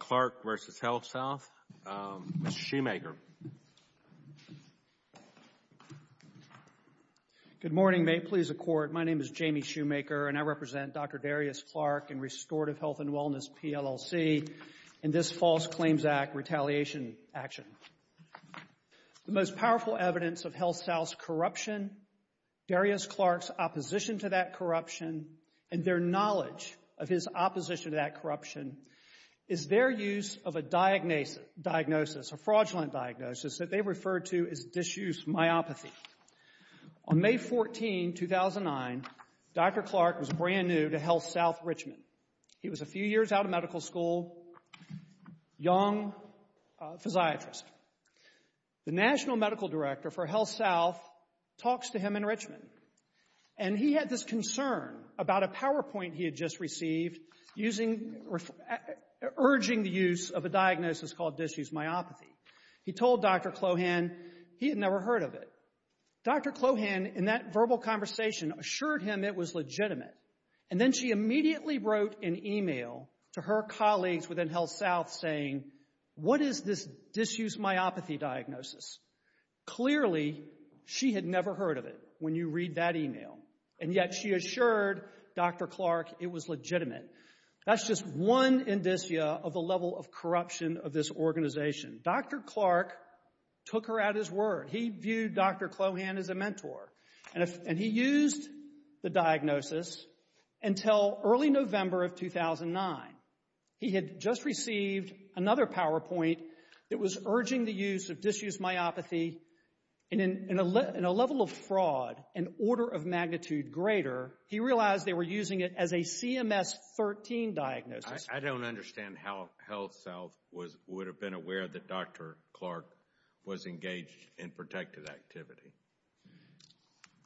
Clarke v. HealthSouth, Mr. Shoemaker. Good morning. May it please the Court, my name is Jamie Shoemaker and I represent Dr. Darius Clarke and Restorative Health and Wellness PLLC in this False Claims Act retaliation action. The most powerful evidence of HealthSouth's corruption, Darius Clarke's opposition to that corruption, and their knowledge of his is their use of a diagnosis, a fraudulent diagnosis that they refer to as disuse myopathy. On May 14, 2009, Dr. Clarke was brand new to HealthSouth Richmond. He was a few years out of medical school, young physiatrist. The National Medical Director for HealthSouth talks to him in Richmond and he had this concern about a PowerPoint he had just received using urging the use of a diagnosis called disuse myopathy. He told Dr. Clohan he had never heard of it. Dr. Clohan, in that verbal conversation, assured him it was legitimate and then she immediately wrote an email to her colleagues within HealthSouth saying, what is this disuse myopathy diagnosis? Clearly, she had never heard of it when you read that email and yet she assured Dr. Clarke it was legitimate. That's just one indicia of the level of corruption of this organization. Dr. Clarke took her at his word. He viewed Dr. Clohan as a mentor and he used the diagnosis until early November of 2009. He had just received another PowerPoint that was urging the use of disuse myopathy and in a level of fraud, an order of magnitude greater, he realized they were using it as a CMS-13 diagnosis. I don't understand how HealthSouth would have been aware that Dr. Clarke was engaged in protected activity.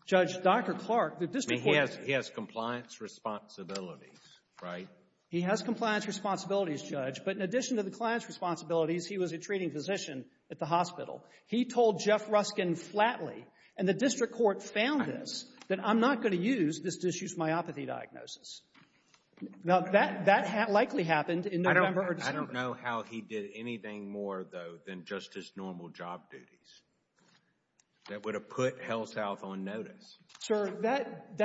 Judge, Dr. Clarke, the district court... He has compliance responsibilities, right? He has compliance responsibilities, Judge, but in addition to the compliance responsibilities, he was a treating physician at the hospital. He told Jeff Ruskin flatly, and the district court found this, that I'm not going to use this disuse myopathy diagnosis. Now, that likely happened in November or December. I don't know how he did anything more, though, than just his normal job duties. That would have put HealthSouth on notice. Sir, that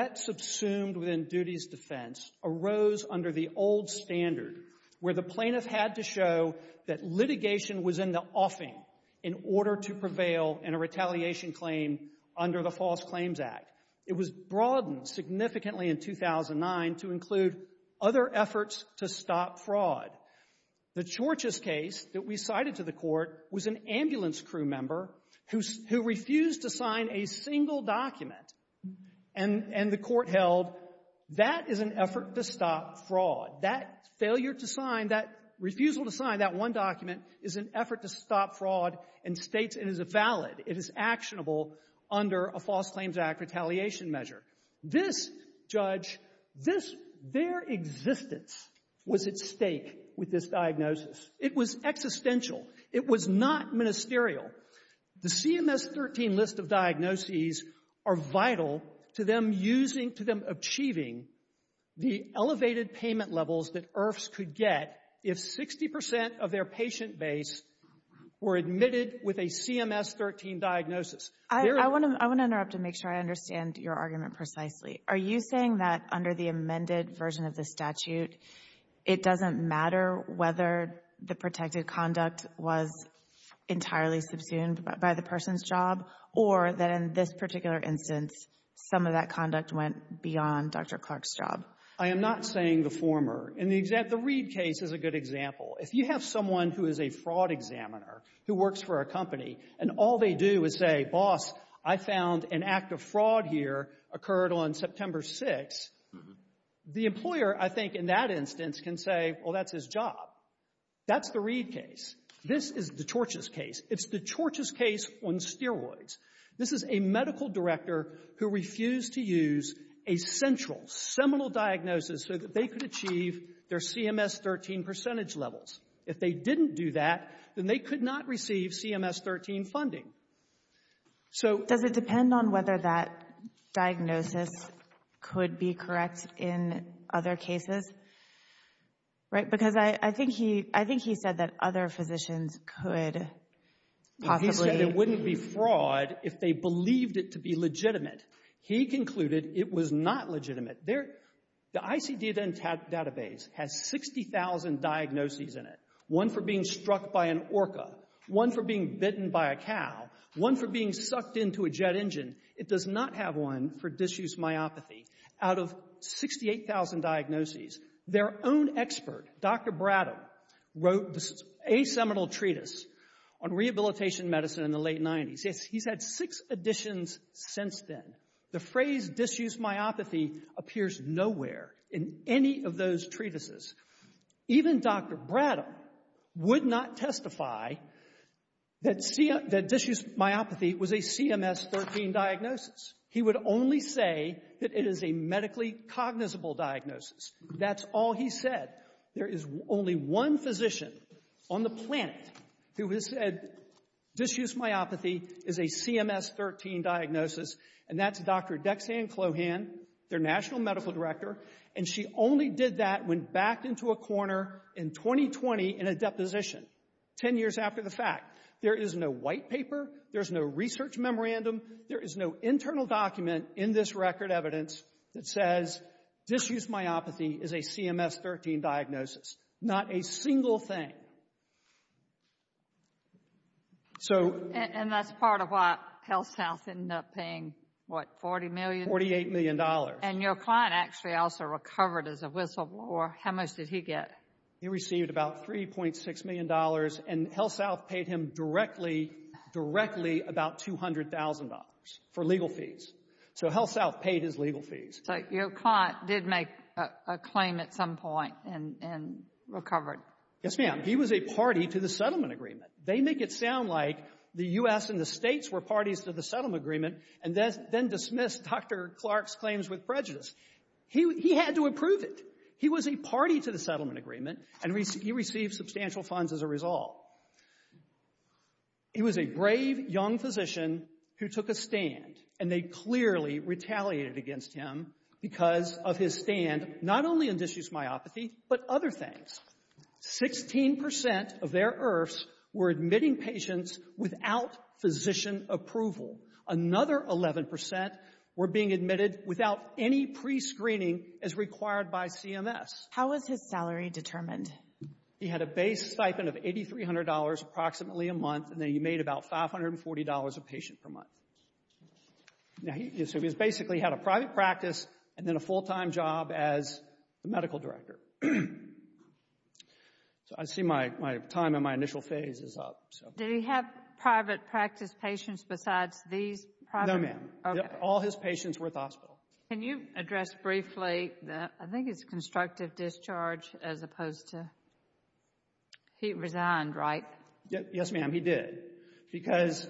duties defense arose under the old standard where the plaintiff had to show that litigation was in the offing in order to prevail in a retaliation claim under the False Claims Act. It was broadened significantly in 2009 to include other efforts to stop fraud. The Church's case that we cited to the court was an ambulance crew member who refused to sign a single document and the court held that is an effort to stop fraud. That failure to sign, that refusal to sign that one document is an effort to stop fraud and states it is valid, it is actionable under a False Claims Act retaliation measure. This, Judge, this, their existence was at stake with this diagnosis. It was existential. It was not ministerial. The CMS-13 list of diagnoses are vital to them using, to them achieving the elevated payment levels that IRFs could get if 60 percent of their patient base were admitted with a CMS-13 diagnosis. I want to interrupt to make sure I understand your argument precisely. Are you saying that under the amended version of the statute, it doesn't matter whether the protected conduct was entirely subsumed by the person's job or that in this particular instance, some of that conduct went beyond Dr. Clark's job? I am not saying the former. And the Reid case is a good example. If you have someone who is a fraud examiner who works for a company and all they do is say, boss, I found an act of fraud here occurred on September 6th, the employer, I think, in that instance can say, well, that's his job. That's the Reid case. This is the Chorch's case. It's the Chorch's case on steroids. This is a medical director who refused to use a central, seminal diagnosis so that they could achieve their CMS-13 percentage levels. If they didn't do that, then they could not receive CMS-13 funding. So — Is that correct in other cases? Right? Because I think he said that other physicians could possibly — Well, he said it wouldn't be fraud if they believed it to be legitimate. He concluded it was not legitimate. The ICD-10 database has 60,000 diagnoses in it, one for being struck by an orca, one for being bitten by a cow, one for being sucked into a jet engine. It does not have one for disuse myopathy. Out of 68,000 diagnoses, their own expert, Dr. Brattle, wrote a seminal treatise on rehabilitation medicine in the late 90s. He's had six editions since then. The phrase disuse myopathy appears nowhere in any of those treatises. Even Dr. Brattle would not testify that disuse myopathy was a CMS-13 diagnosis. He would only say that it is a medically cognizable diagnosis. That's all he said. There is only one physician on the planet who has said disuse myopathy is a CMS-13 diagnosis, and that's Dr. Dexanne Clohan, their national medical director, and she only did that when backed into a corner in 2020 in a deposition, 10 years after the fact. There is no white paper. There's no research memorandum. There is no internal document in this record evidence that says disuse myopathy is a CMS-13 diagnosis. Not a single thing. And that's part of why HealthSouth ended up paying, what, $40 million? $48 million. And your client actually also recovered as a whistleblower. How much did he get? He received about $3.6 million, and HealthSouth paid him directly, directly about $200,000 for legal fees. So HealthSouth paid his legal fees. So your client did make a claim at some point and recovered. Yes, ma'am. He was a party to the settlement agreement. They make it sound like the U.S. and the States were parties to the settlement agreement and then dismissed Dr. Clark's claims with prejudice. He had to approve it. He was a party to the settlement agreement, and he received substantial funds as a result. He was a brave young physician who took a stand, and they clearly retaliated against him because of his stand, not only in disuse myopathy, but other things. 16% of their IRFs were admitting patients without physician approval. Another 11% were being admitted without any prescreening as required by CMS. How was his salary determined? He had a base stipend of $8,300 approximately a month, and then he made about $540 a patient per month. Now, he basically had a private practice and then a full-time job as the medical director. So I see my time in my initial phase is up. Did he have private practice patients besides these private? No, ma'am. All his patients were at the hospital. Can you address briefly, I think it's constructive discharge as opposed to, he resigned, right? Yes, ma'am, he did because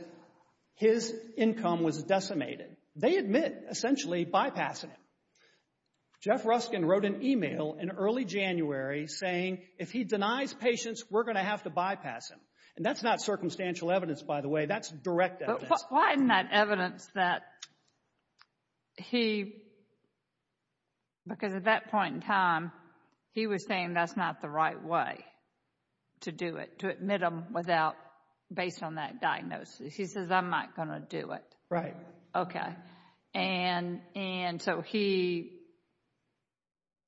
his income was decimated. They admit essentially bypassing him. Jeff Ruskin wrote an email in early January saying, if he denies patients, we're going to have to bypass him. And that's not circumstantial evidence, by the way. That's direct evidence. Why isn't that evidence that he, because at that point in time, he was saying that's not the right way to do it, to admit them without, based on that diagnosis. He says, I'm not going to do it. Right. Okay. And so he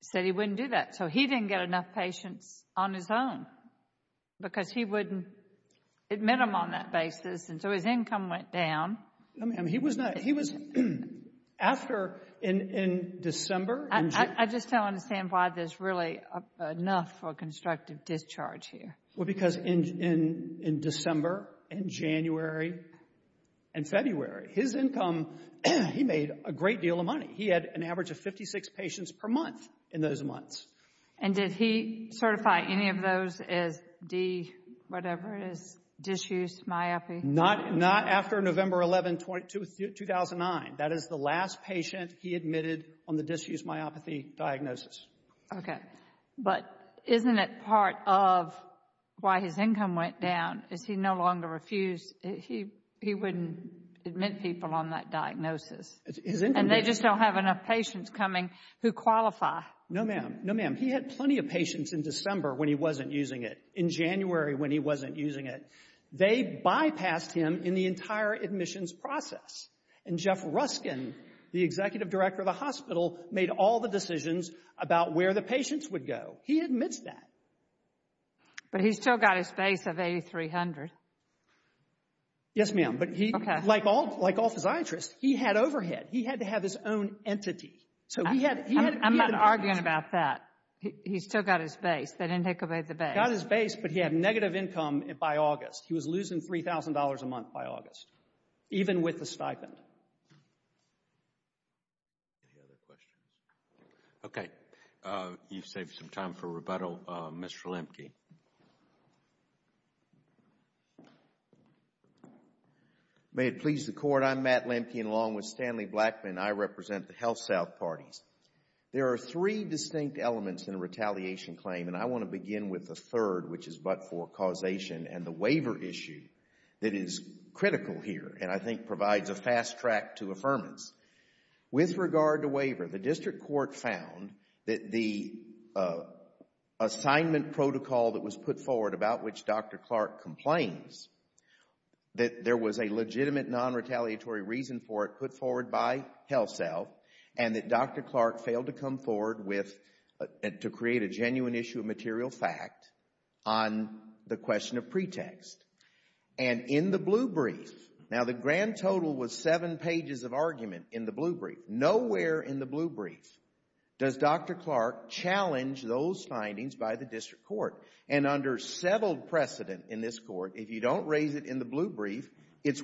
said he wouldn't do that. So he didn't get enough patients on his own because he wouldn't admit them on that basis. And so his income went down. No, ma'am, he was not, he was after in December. I just don't understand why there's really enough for constructive discharge here. Well, because in December and January and February, his income, he made a great deal of money. He had an average of 56 patients per month in those months. And did he certify any of those as D, whatever it is, disuse myopathy? Not after November 11, 2009. That is the last patient he admitted on the disuse myopathy diagnosis. Okay. But isn't it part of why his income went down is he no longer refused, he wouldn't admit people on that diagnosis. And they just don't have enough patients coming who qualify. No, ma'am. No, ma'am. He had plenty of patients in December when he wasn't using it, in January when he wasn't using it. They bypassed him in the entire admissions process. And Jeff Ruskin, the executive director of the hospital, made all the decisions about where the patients would go. He admits that. But he's still got his base of 8,300. Yes, ma'am. But he, like all physiatrists, he had overhead. He had to have his own entity. I'm not arguing about that. He's still got his base. They didn't take away the base. Got his base, but he had negative income by August. He was losing $3,000 a month by August, even with the stipend. Any other questions? Okay. You've saved some time for rebuttal. Mr. Lemke. May it please the Court. I'm Matt Lemke, and along with Stanley Blackman, I represent the HealthSouth parties. There are three distinct elements in a retaliation claim, and I want to begin with the third, which is but for causation, and the waiver issue that is critical here, and I think provides a fast track to affirmance. With regard to waiver, the district court found that the assignment protocol that was put forward, about which Dr. Clark complains, that there was a legitimate non-retaliatory reason for it put on HealthSouth, and that Dr. Clark failed to come forward to create a genuine issue of material fact on the question of pretext. And in the blue brief, now the grand total was seven pages of argument in the blue brief. Nowhere in the blue brief does Dr. Clark challenge those findings by the district court, and under settled precedent in this court, if you don't raise it in the blue brief, it's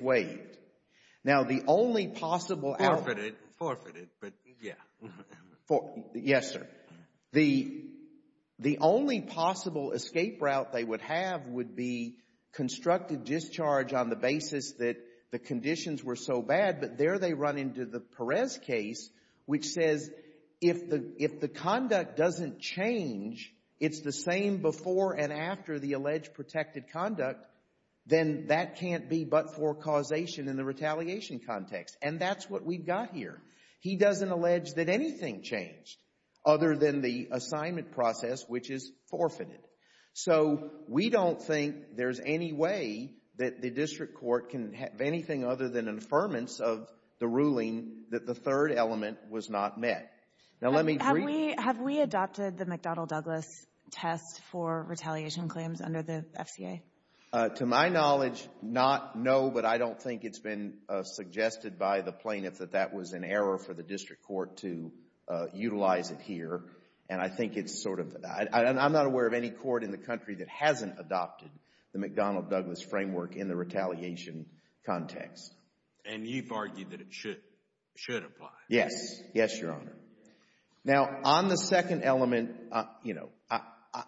only possible. Forfeit it, but yeah. Yes, sir. The only possible escape route they would have would be constructive discharge on the basis that the conditions were so bad, but there they run into the Perez case, which says if the conduct doesn't change, it's the same before and after the alleged protected conduct, then that can't be but for causation in the retaliation context, and that's what we've got here. He doesn't allege that anything changed other than the assignment process, which is forfeited. So we don't think there's any way that the district court can have anything other than an affirmance of the ruling that the third element was not met. Now let me Have we adopted the McDonnell Douglas test for retaliation claims under the FCA? To my knowledge, not, no, but I don't think it's been suggested by the plaintiff that that was an error for the district court to utilize it here, and I think it's sort of, I'm not aware of any court in the country that hasn't adopted the McDonnell Douglas framework in the retaliation context. And you've Now on the second element, you know,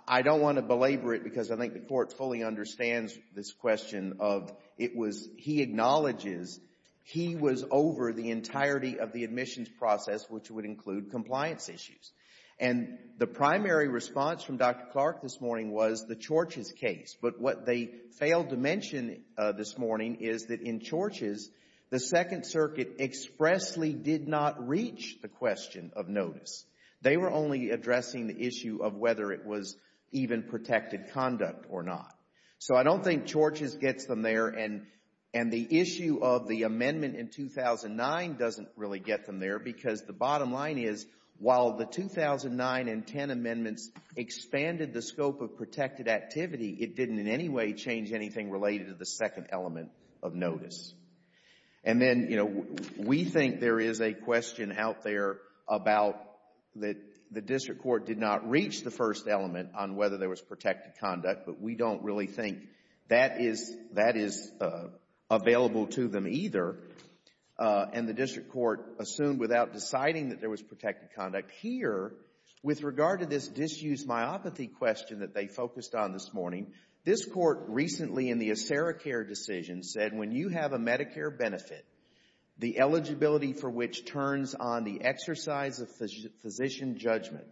I don't want to belabor it because I think the court fully understands this question of, it was, he acknowledges he was over the entirety of the admissions process, which would include compliance issues, and the primary response from Dr. Clark this morning was the Chorch's case, but what they failed to mention this morning is that in Chorch's, the Second Circuit expressly did not reach the question of notice. They were only addressing the issue of whether it was even protected conduct or not. So I don't think Chorch's gets them there and the issue of the amendment in 2009 doesn't really get them there because the bottom line is, while the 2009 and 10 amendments expanded the scope of protected activity, it didn't in any way anything related to the second element of notice. And then, you know, we think there is a question out there about that the district court did not reach the first element on whether there was protected conduct, but we don't really think that is, that is available to them either. And the district court assumed without deciding that there was protected conduct here, with regard to this disuse myopathy question that they focused on this morning, this court recently in the AceraCare decision said when you have a Medicare benefit, the eligibility for which turns on the exercise of physician judgment,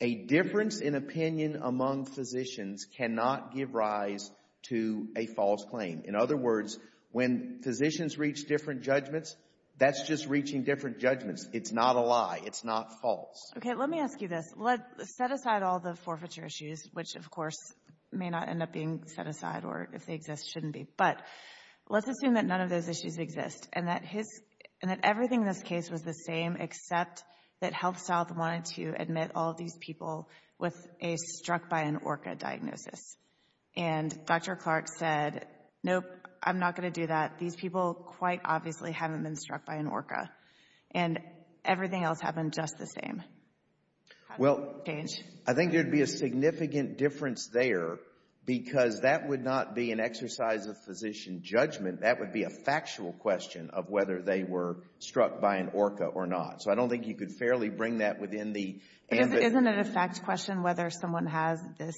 a difference in opinion among physicians cannot give rise to a false claim. In other words, when physicians reach different judgments, that's just reaching different judgments. It's not a lie. It's not false. Okay, let me ask you this. Let's set aside all the forfeiture issues, which of course may not end up being set aside, or if they exist, shouldn't be. But let's assume that none of those issues exist, and that his, and that everything in this case was the same, except that HealthSouth wanted to admit all these people with a struck by an ORCA diagnosis. And Dr. Clark said, nope, I'm not going to do that. These people quite obviously haven't been struck by an ORCA. And everything else happened just the same. Well, I think there'd be a significant difference there, because that would not be an exercise of physician judgment. That would be a factual question of whether they were struck by an ORCA or not. So I don't think you could fairly bring that within the... Isn't it a fact question whether someone has this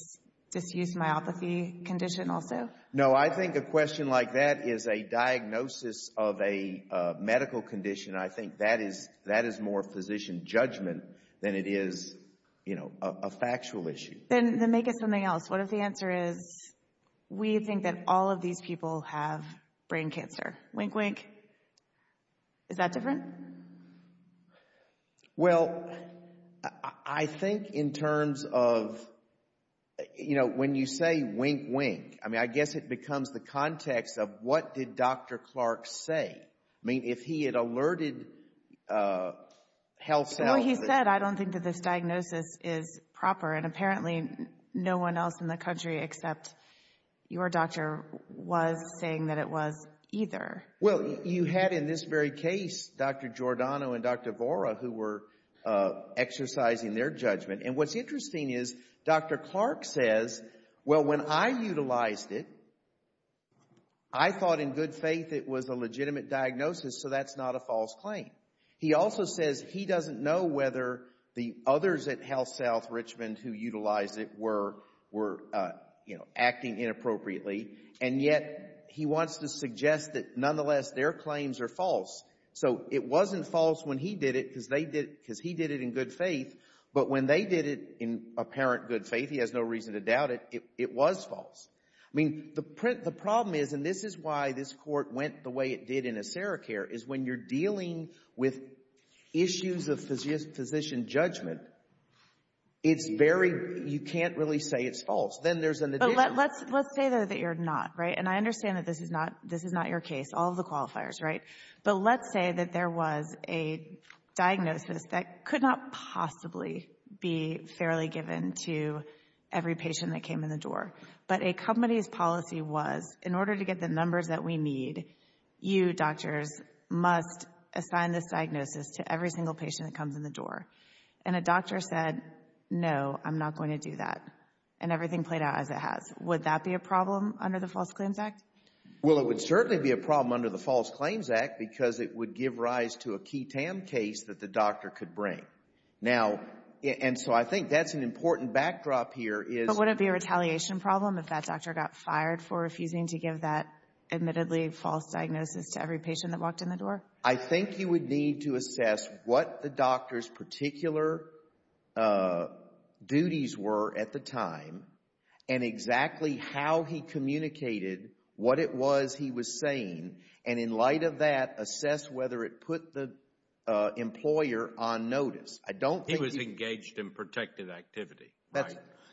disuse myopathy condition also? No, I think a question like that is a diagnosis of a medical condition. I think that is, that is more physician judgment than it is, you know, a factual issue. Then make it something else. What if the answer is, we think that all of these people have brain cancer? Wink, wink. Is that different? Well, I think in terms of, you know, when you say wink, wink, I mean, I guess it becomes the context of what did Dr. Clark say? I mean, if he had alerted HealthSouth... except your doctor was saying that it was either. Well, you had in this very case, Dr. Giordano and Dr. Vora, who were exercising their judgment. And what's interesting is, Dr. Clark says, well, when I utilized it, I thought in good faith it was a legitimate diagnosis, so that's not a false claim. He also says he doesn't know whether the others at HealthSouth Richmond who utilized it were, were, you know, acting inappropriately, and yet he wants to suggest that nonetheless their claims are false. So it wasn't false when he did it, because they did it, because he did it in good faith, but when they did it in apparent good faith, he has no reason to doubt it, it was false. I mean, the problem is, and this is why this Court went the way it did in ACERICARE, is when you're dealing with issues of physician judgment, it's very, you can't really say it's false. Then there's an addition. But let's, let's say though that you're not, right? And I understand that this is not, this is not your case, all of the qualifiers, right? But let's say that there was a diagnosis that could not possibly be fairly given to every patient that came in the door. But a company's policy was, in order to get the numbers that we need, you doctors must assign this diagnosis to every single patient that comes in the door. And a doctor said, no, I'm not going to do that. And everything played out as it has. Would that be a problem under the False Claims Act? Well, it would certainly be a problem under the False Claims Act, because it would give rise to a key TAM case that the doctor could bring. Now, and so I think that's an important backdrop here is But would it be a retaliation problem if that doctor got fired for refusing to give that admittedly false diagnosis to every patient that walked in the door? I think you would need to assess what the doctor's particular duties were at the time and exactly how he communicated what it was he was saying. And in light of that, assess whether it put the employer on notice. I don't think... He was engaged in protective activity, right?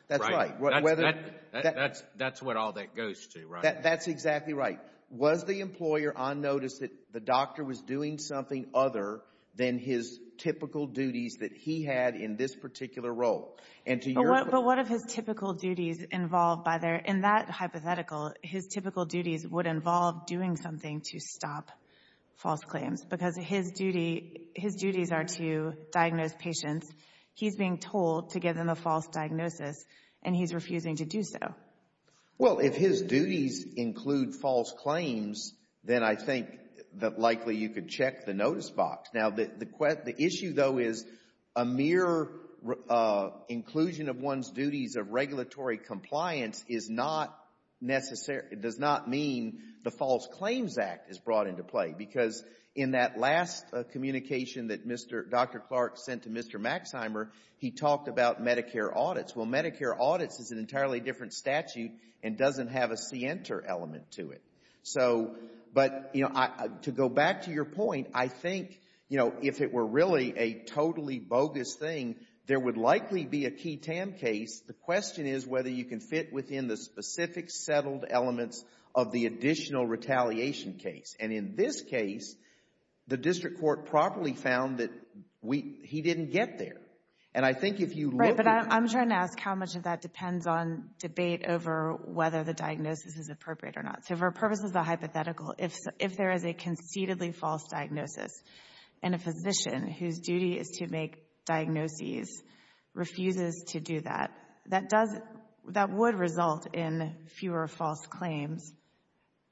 That's right. That's what all that goes to, right? That's exactly right. Was the employer on notice that the doctor was doing something other than his typical duties that he had in this particular role? And to your... But what if his typical duties involved by their, in that hypothetical, his typical duties would involve doing something to stop false claims? Because his duty, his duties are to diagnose patients. He's being told to give them a false diagnosis, and he's refusing to do so. Well, if his duties include false claims, then I think that likely you could check the notice box. Now, the issue, though, is a mere inclusion of one's duties of regulatory compliance is not necessary. It does not mean the False Claims Act is brought into play because in that last communication that Dr. Clark sent to Mr. Maxheimer, he talked about Medicare audits. Well, Medicare audits is an entirely different statute and doesn't have a CNTER element to it. So, but, you know, to go back to your point, I think, you know, if it were really a totally bogus thing, there would likely be a key TAM case. The question is whether you can fit within the specific settled elements of the additional retaliation case. And in this case, the district court properly found that he didn't get there. And I think if you look... I'm going to ask how much of that depends on debate over whether the diagnosis is appropriate or not. So for purposes of the hypothetical, if there is a conceitedly false diagnosis and a physician whose duty is to make diagnoses refuses to do that, that does, that would result in fewer false claims,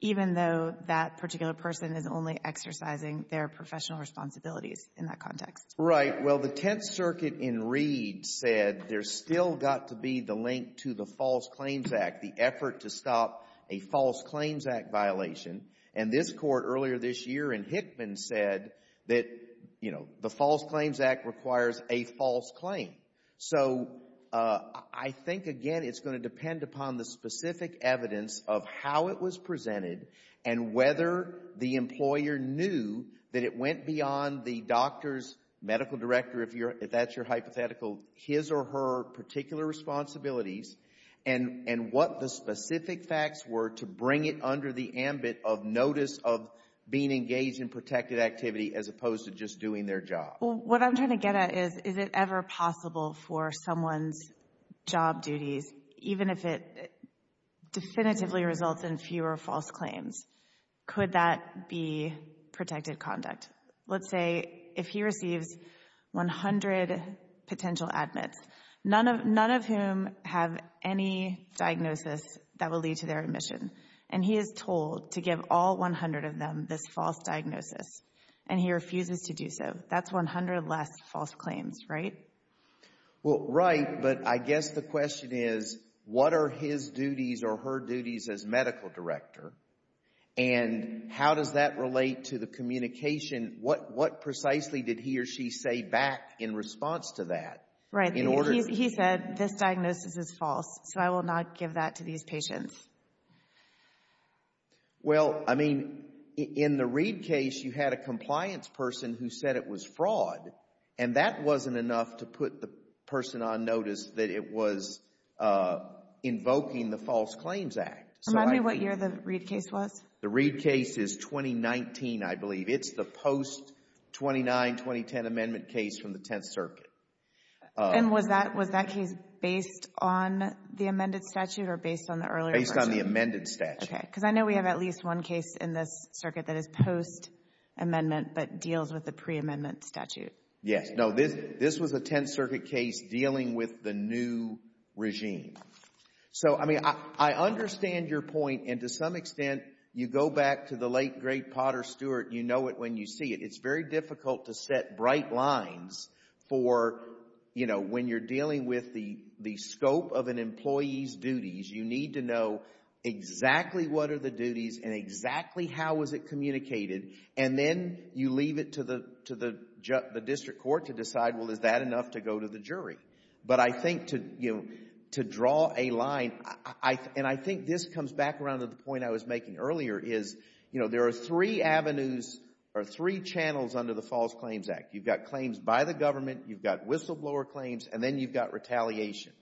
even though that particular person is only exercising their professional responsibilities in that context. Right. Well, the Tenth Circuit in Reed said there's still got to be the link to the False Claims Act, the effort to stop a False Claims Act violation. And this court earlier this year in Hickman said that, you know, the False Claims Act requires a false claim. So I think, again, it's going to depend upon the specific evidence of how it was presented and whether the employer knew that it went beyond the doctor's medical director, if that's your hypothetical, his or her particular responsibilities and what the specific facts were to bring it under the ambit of notice of being engaged in protected activity as opposed to just doing their job. What I'm trying to get at is, is it ever possible for someone's job duties, even if it is protected conduct? Let's say if he receives 100 potential admits, none of whom have any diagnosis that will lead to their admission, and he is told to give all 100 of them this false diagnosis, and he refuses to do so. That's 100 less false claims, right? Well, right. But I guess the question is, what are his duties or her duties as medical director? And how does that relate to the communication? What precisely did he or she say back in response to that? Right. He said this diagnosis is false, so I will not give that to these patients. Well, I mean, in the Reed case, you had a compliance person who said it was fraud, and that wasn't enough to put the person on notice that it was invoking the False Claims Act. Remind me what year the Reed case was. The Reed case is 2019, I believe. It's the post-29, 2010 amendment case from the Tenth Circuit. And was that case based on the amended statute or based on the earlier version? Based on the amended statute. Okay. Because I know we have at least one case in this circuit that is post-amendment but deals with the pre-amendment statute. Yes. No, this was a Tenth Circuit case dealing with the new regime. So, I mean, I understand your point. And to some extent, you go back to the late, great Potter Stewart, you know it when you see it. It's very difficult to set bright lines for, you know, when you're dealing with the scope of an employee's duties, you need to know exactly what are the duties and exactly how was it communicated. And then you leave it to the district court to decide, well, is that enough to go to the jury? But I think to, you know, to draw a line, and I think this comes back around to the point I was making earlier is, you know, there are three avenues or three channels under the False Claims Act. You've got claims by the government, you've got whistleblower claims, and then you've got retaliation.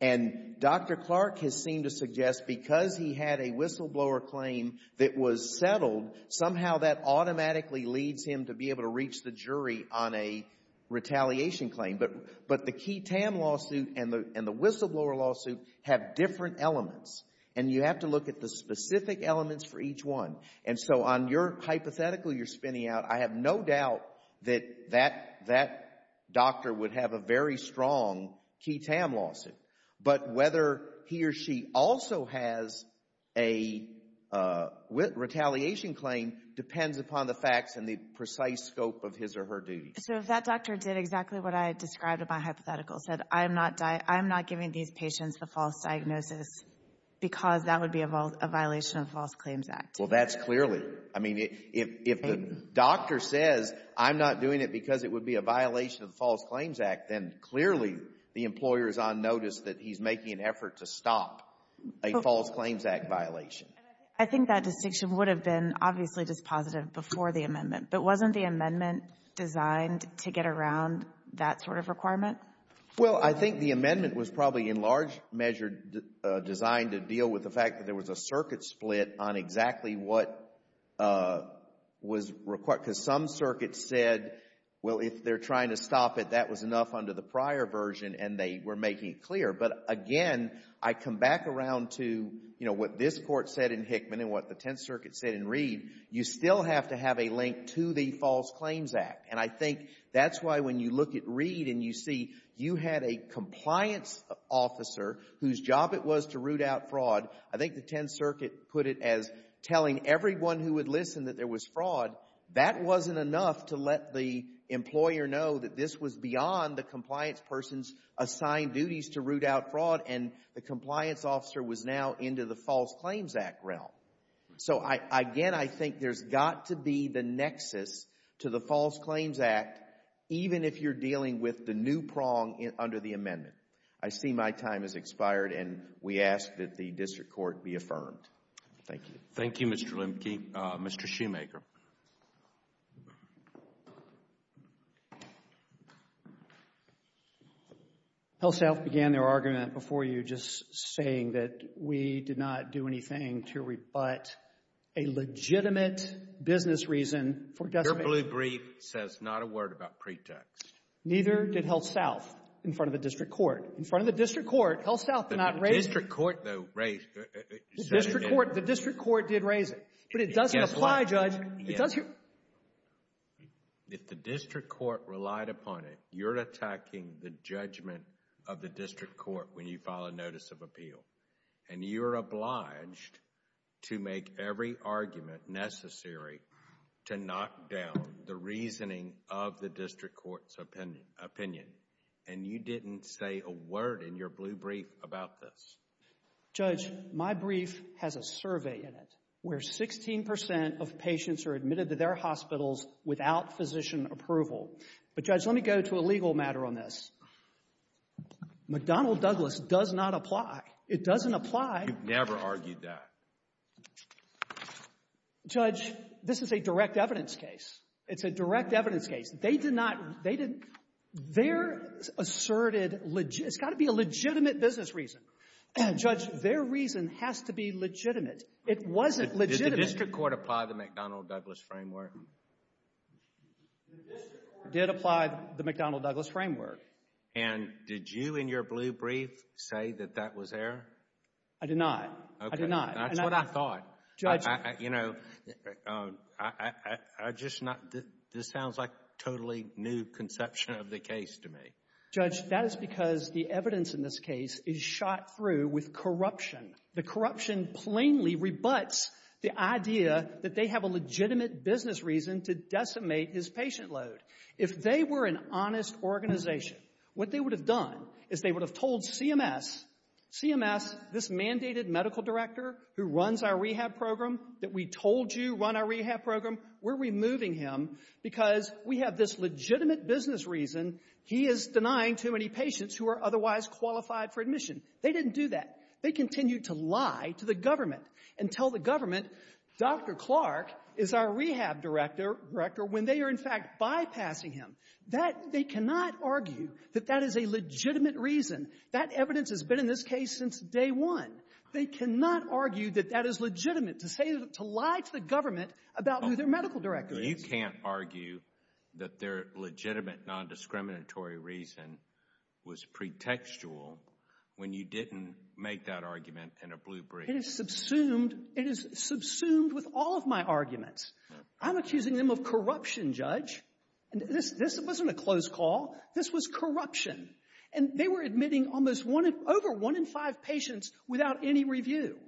And Dr. Clark has seemed to suggest because he had a whistleblower claim that was settled, somehow that automatically leads him to be able to reach the jury on a retaliation claim. But the Ke Tam lawsuit and the whistleblower lawsuit have different elements, and you have to look at the specific elements for each one. And so on your hypothetical you're spinning out, I have no doubt that that doctor would have a very strong Ke Tam lawsuit. But whether he or she also has a retaliation claim depends upon the facts and the precise scope of his or her duty. So if that doctor did exactly what I described in my hypothetical, said I'm not giving these patients the false diagnosis because that would be a violation of the False Claims Act? Well, that's clearly. I mean, if the doctor says I'm not doing it because it would be a violation of the False Claims Act, then clearly the employer is on notice that he's making an effort to stop a False Claims Act violation. I think that distinction would have been obviously just positive before the amendment. But wasn't the amendment designed to get around that sort of requirement? Well, I think the amendment was probably in large measure designed to deal with the fact that there was a circuit split on exactly what was required. Because some circuits said, well, if they're trying to stop it, that was enough under the prior version, and they were back around to, you know, what this court said in Hickman and what the Tenth Circuit said in Reed, you still have to have a link to the False Claims Act. And I think that's why when you look at Reed and you see you had a compliance officer whose job it was to root out fraud, I think the Tenth Circuit put it as telling everyone who would listen that there was fraud. That wasn't enough to let the employer know that this was beyond the compliance person's assigned duties to root out fraud, and the compliance officer was now into the False Claims Act realm. So, again, I think there's got to be the nexus to the False Claims Act, even if you're dealing with the new prong under the amendment. I see my time has expired, and we ask that the district court be affirmed. Thank you. Thank you, Mr. Lemke. Mr. Shoemaker. HealthSouth began their argument before you just saying that we did not do anything to rebut a legitimate business reason for decimating— Your blue brief says not a word about pretext. Neither did HealthSouth in front of the district court. In front of the district court, HealthSouth did not raise— The district court, though, raised— The district court did raise it, but it doesn't apply, Judge. It doesn't— If the district court relied upon it, you're attacking the judgment of the district court when you file a Notice of Appeal, and you're obliged to make every argument necessary to knock down the reasoning of the district court's opinion, and you didn't say a word in your blue brief about this. Judge, my brief has a survey in it where 16 percent of patients are admitted to their hospitals without physician approval. But, Judge, let me go to a legal matter on this. McDonnell-Douglas does not apply. It doesn't apply— You've never argued that. Judge, this is a direct evidence case. It's a direct evidence case. They did not— Their asserted—It's got to be a legitimate business reason. Judge, their reason has to be legitimate. It wasn't legitimate— Did the district court apply the McDonnell-Douglas framework? The district court did apply the McDonnell-Douglas framework. And did you, in your blue brief, say that that was there? I did not. I did not. Okay. That's what I thought. Judge— You know, I just not—this sounds like a totally new conception of the case to me. Judge, that is because the evidence in this case is shot through with corruption. The corruption plainly rebuts the idea that they have a legitimate business reason to decimate his patient load. If they were an honest organization, what they would have done is they mandated medical director who runs our rehab program that we told you run our rehab program, we're removing him because we have this legitimate business reason he is denying too many patients who are otherwise qualified for admission. They didn't do that. They continued to lie to the government and tell the government, Dr. Clark is our rehab director when they are, in fact, bypassing him. That—they cannot argue that that is a legitimate reason. That evidence has been in this case since day one. They cannot argue that that is legitimate to say—to lie to the government about who their medical director is. You can't argue that their legitimate non-discriminatory reason was pretextual when you didn't make that argument in a blue brief. It is subsumed. It is subsumed with all of my arguments. I'm accusing them of corruption, Judge. This wasn't a close call. This was corruption. And they were admitting almost over one in five patients without any review.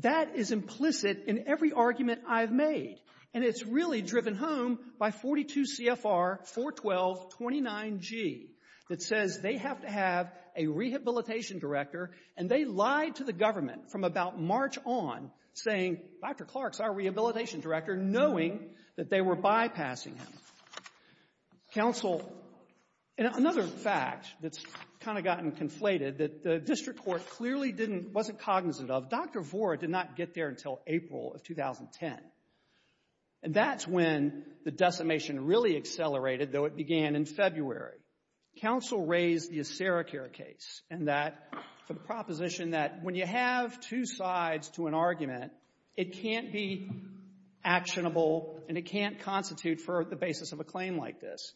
That is implicit in every argument I've made. And it's really driven home by 42 CFR 41229G that says they have to have a rehabilitation director, and they lied to the government from about March on saying, Dr. Clark is our rehabilitation director, knowing that they were bypassing him. Counsel—and another fact that's kind of gotten conflated that the district court clearly didn't—wasn't cognizant of, Dr. Vora did not get there until April of 2010. And that's when the decimation really accelerated, though it began in February. Counsel raised the Acericare case and that—for the proposition that when you have two sides to an argument, it can't be actionable and it can't constitute for the basis of a claim like this.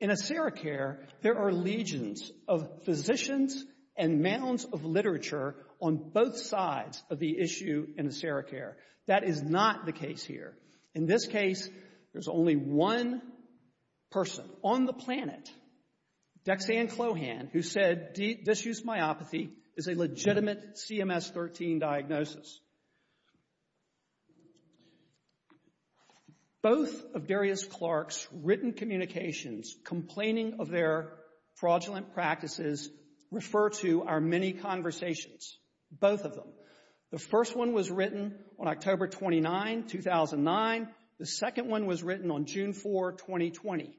In Acericare, there are legions of physicians and mounds of literature on both sides of the issue in Acericare. That is not the case here. In this case, there's only one person on the diagnosis. Both of Darius Clark's written communications complaining of their fraudulent practices refer to our many conversations, both of them. The first one was written on October 29, 2009. The second one was written on June 4, 2020.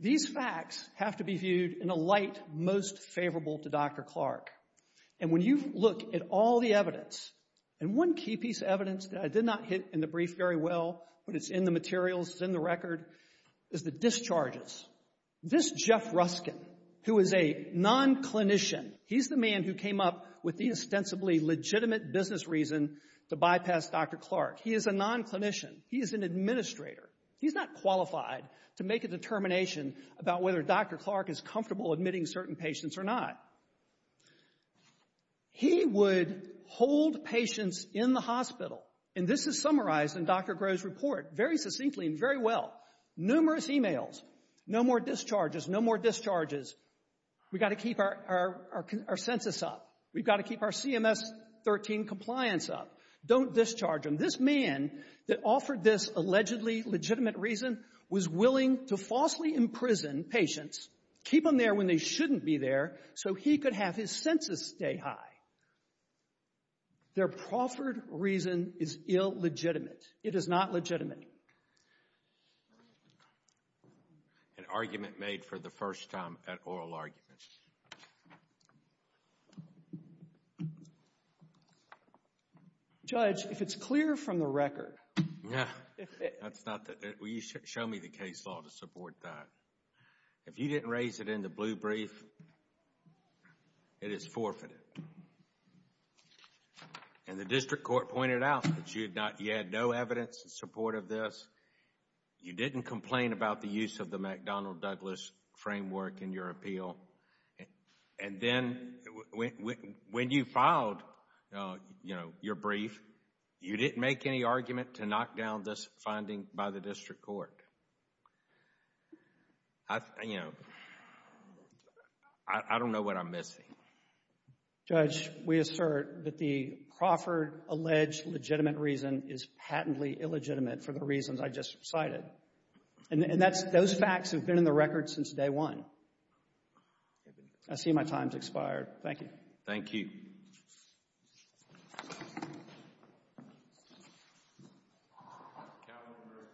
These facts have to be viewed in a light most favorable to Dr. Clark. And when you look at all the evidence, and one key piece of evidence that I did not hit in the brief very well, but it's in the materials, it's in the record, is the discharges. This Jeff Ruskin, who is a non-clinician, he's the man who came up with the ostensibly legitimate business reason to bypass Dr. Clark. He is a non-clinician. He is an administrator. He's not qualified to make a determination about whether Dr. Clark is comfortable admitting certain patients or not. He would hold patients in the hospital, and this is summarized in Dr. Groh's report very succinctly and very well, numerous emails, no more discharges, no more discharges. We've got to keep our census up. We've got to keep our CMS-13 compliance up. Don't discharge them. This man that offered this allegedly legitimate reason was willing to falsely imprison patients, keep them there when they shouldn't be there, so he could have his census stay high. Their proffered reason is illegitimate. It is not legitimate. An argument made for the first time at oral arguments. Judge, if it's clear from the record. Yeah, that's not, show me the case law to support that. If you didn't raise it in the blue brief, it is forfeited. And the district court pointed out that you had no evidence in support of this. You didn't complain about the use of the McDonnell-Douglas framework in your appeal. And then when you filed, you know, your brief, you didn't make any argument to knock down this finding by the district court. I, you know, I don't know what I'm missing. Judge, we assert that the proffered alleged legitimate reason is patently illegitimate for the reasons I just cited. And that's, those facts have been in the record since day one. I see my time's expired. Thank you. Thank you.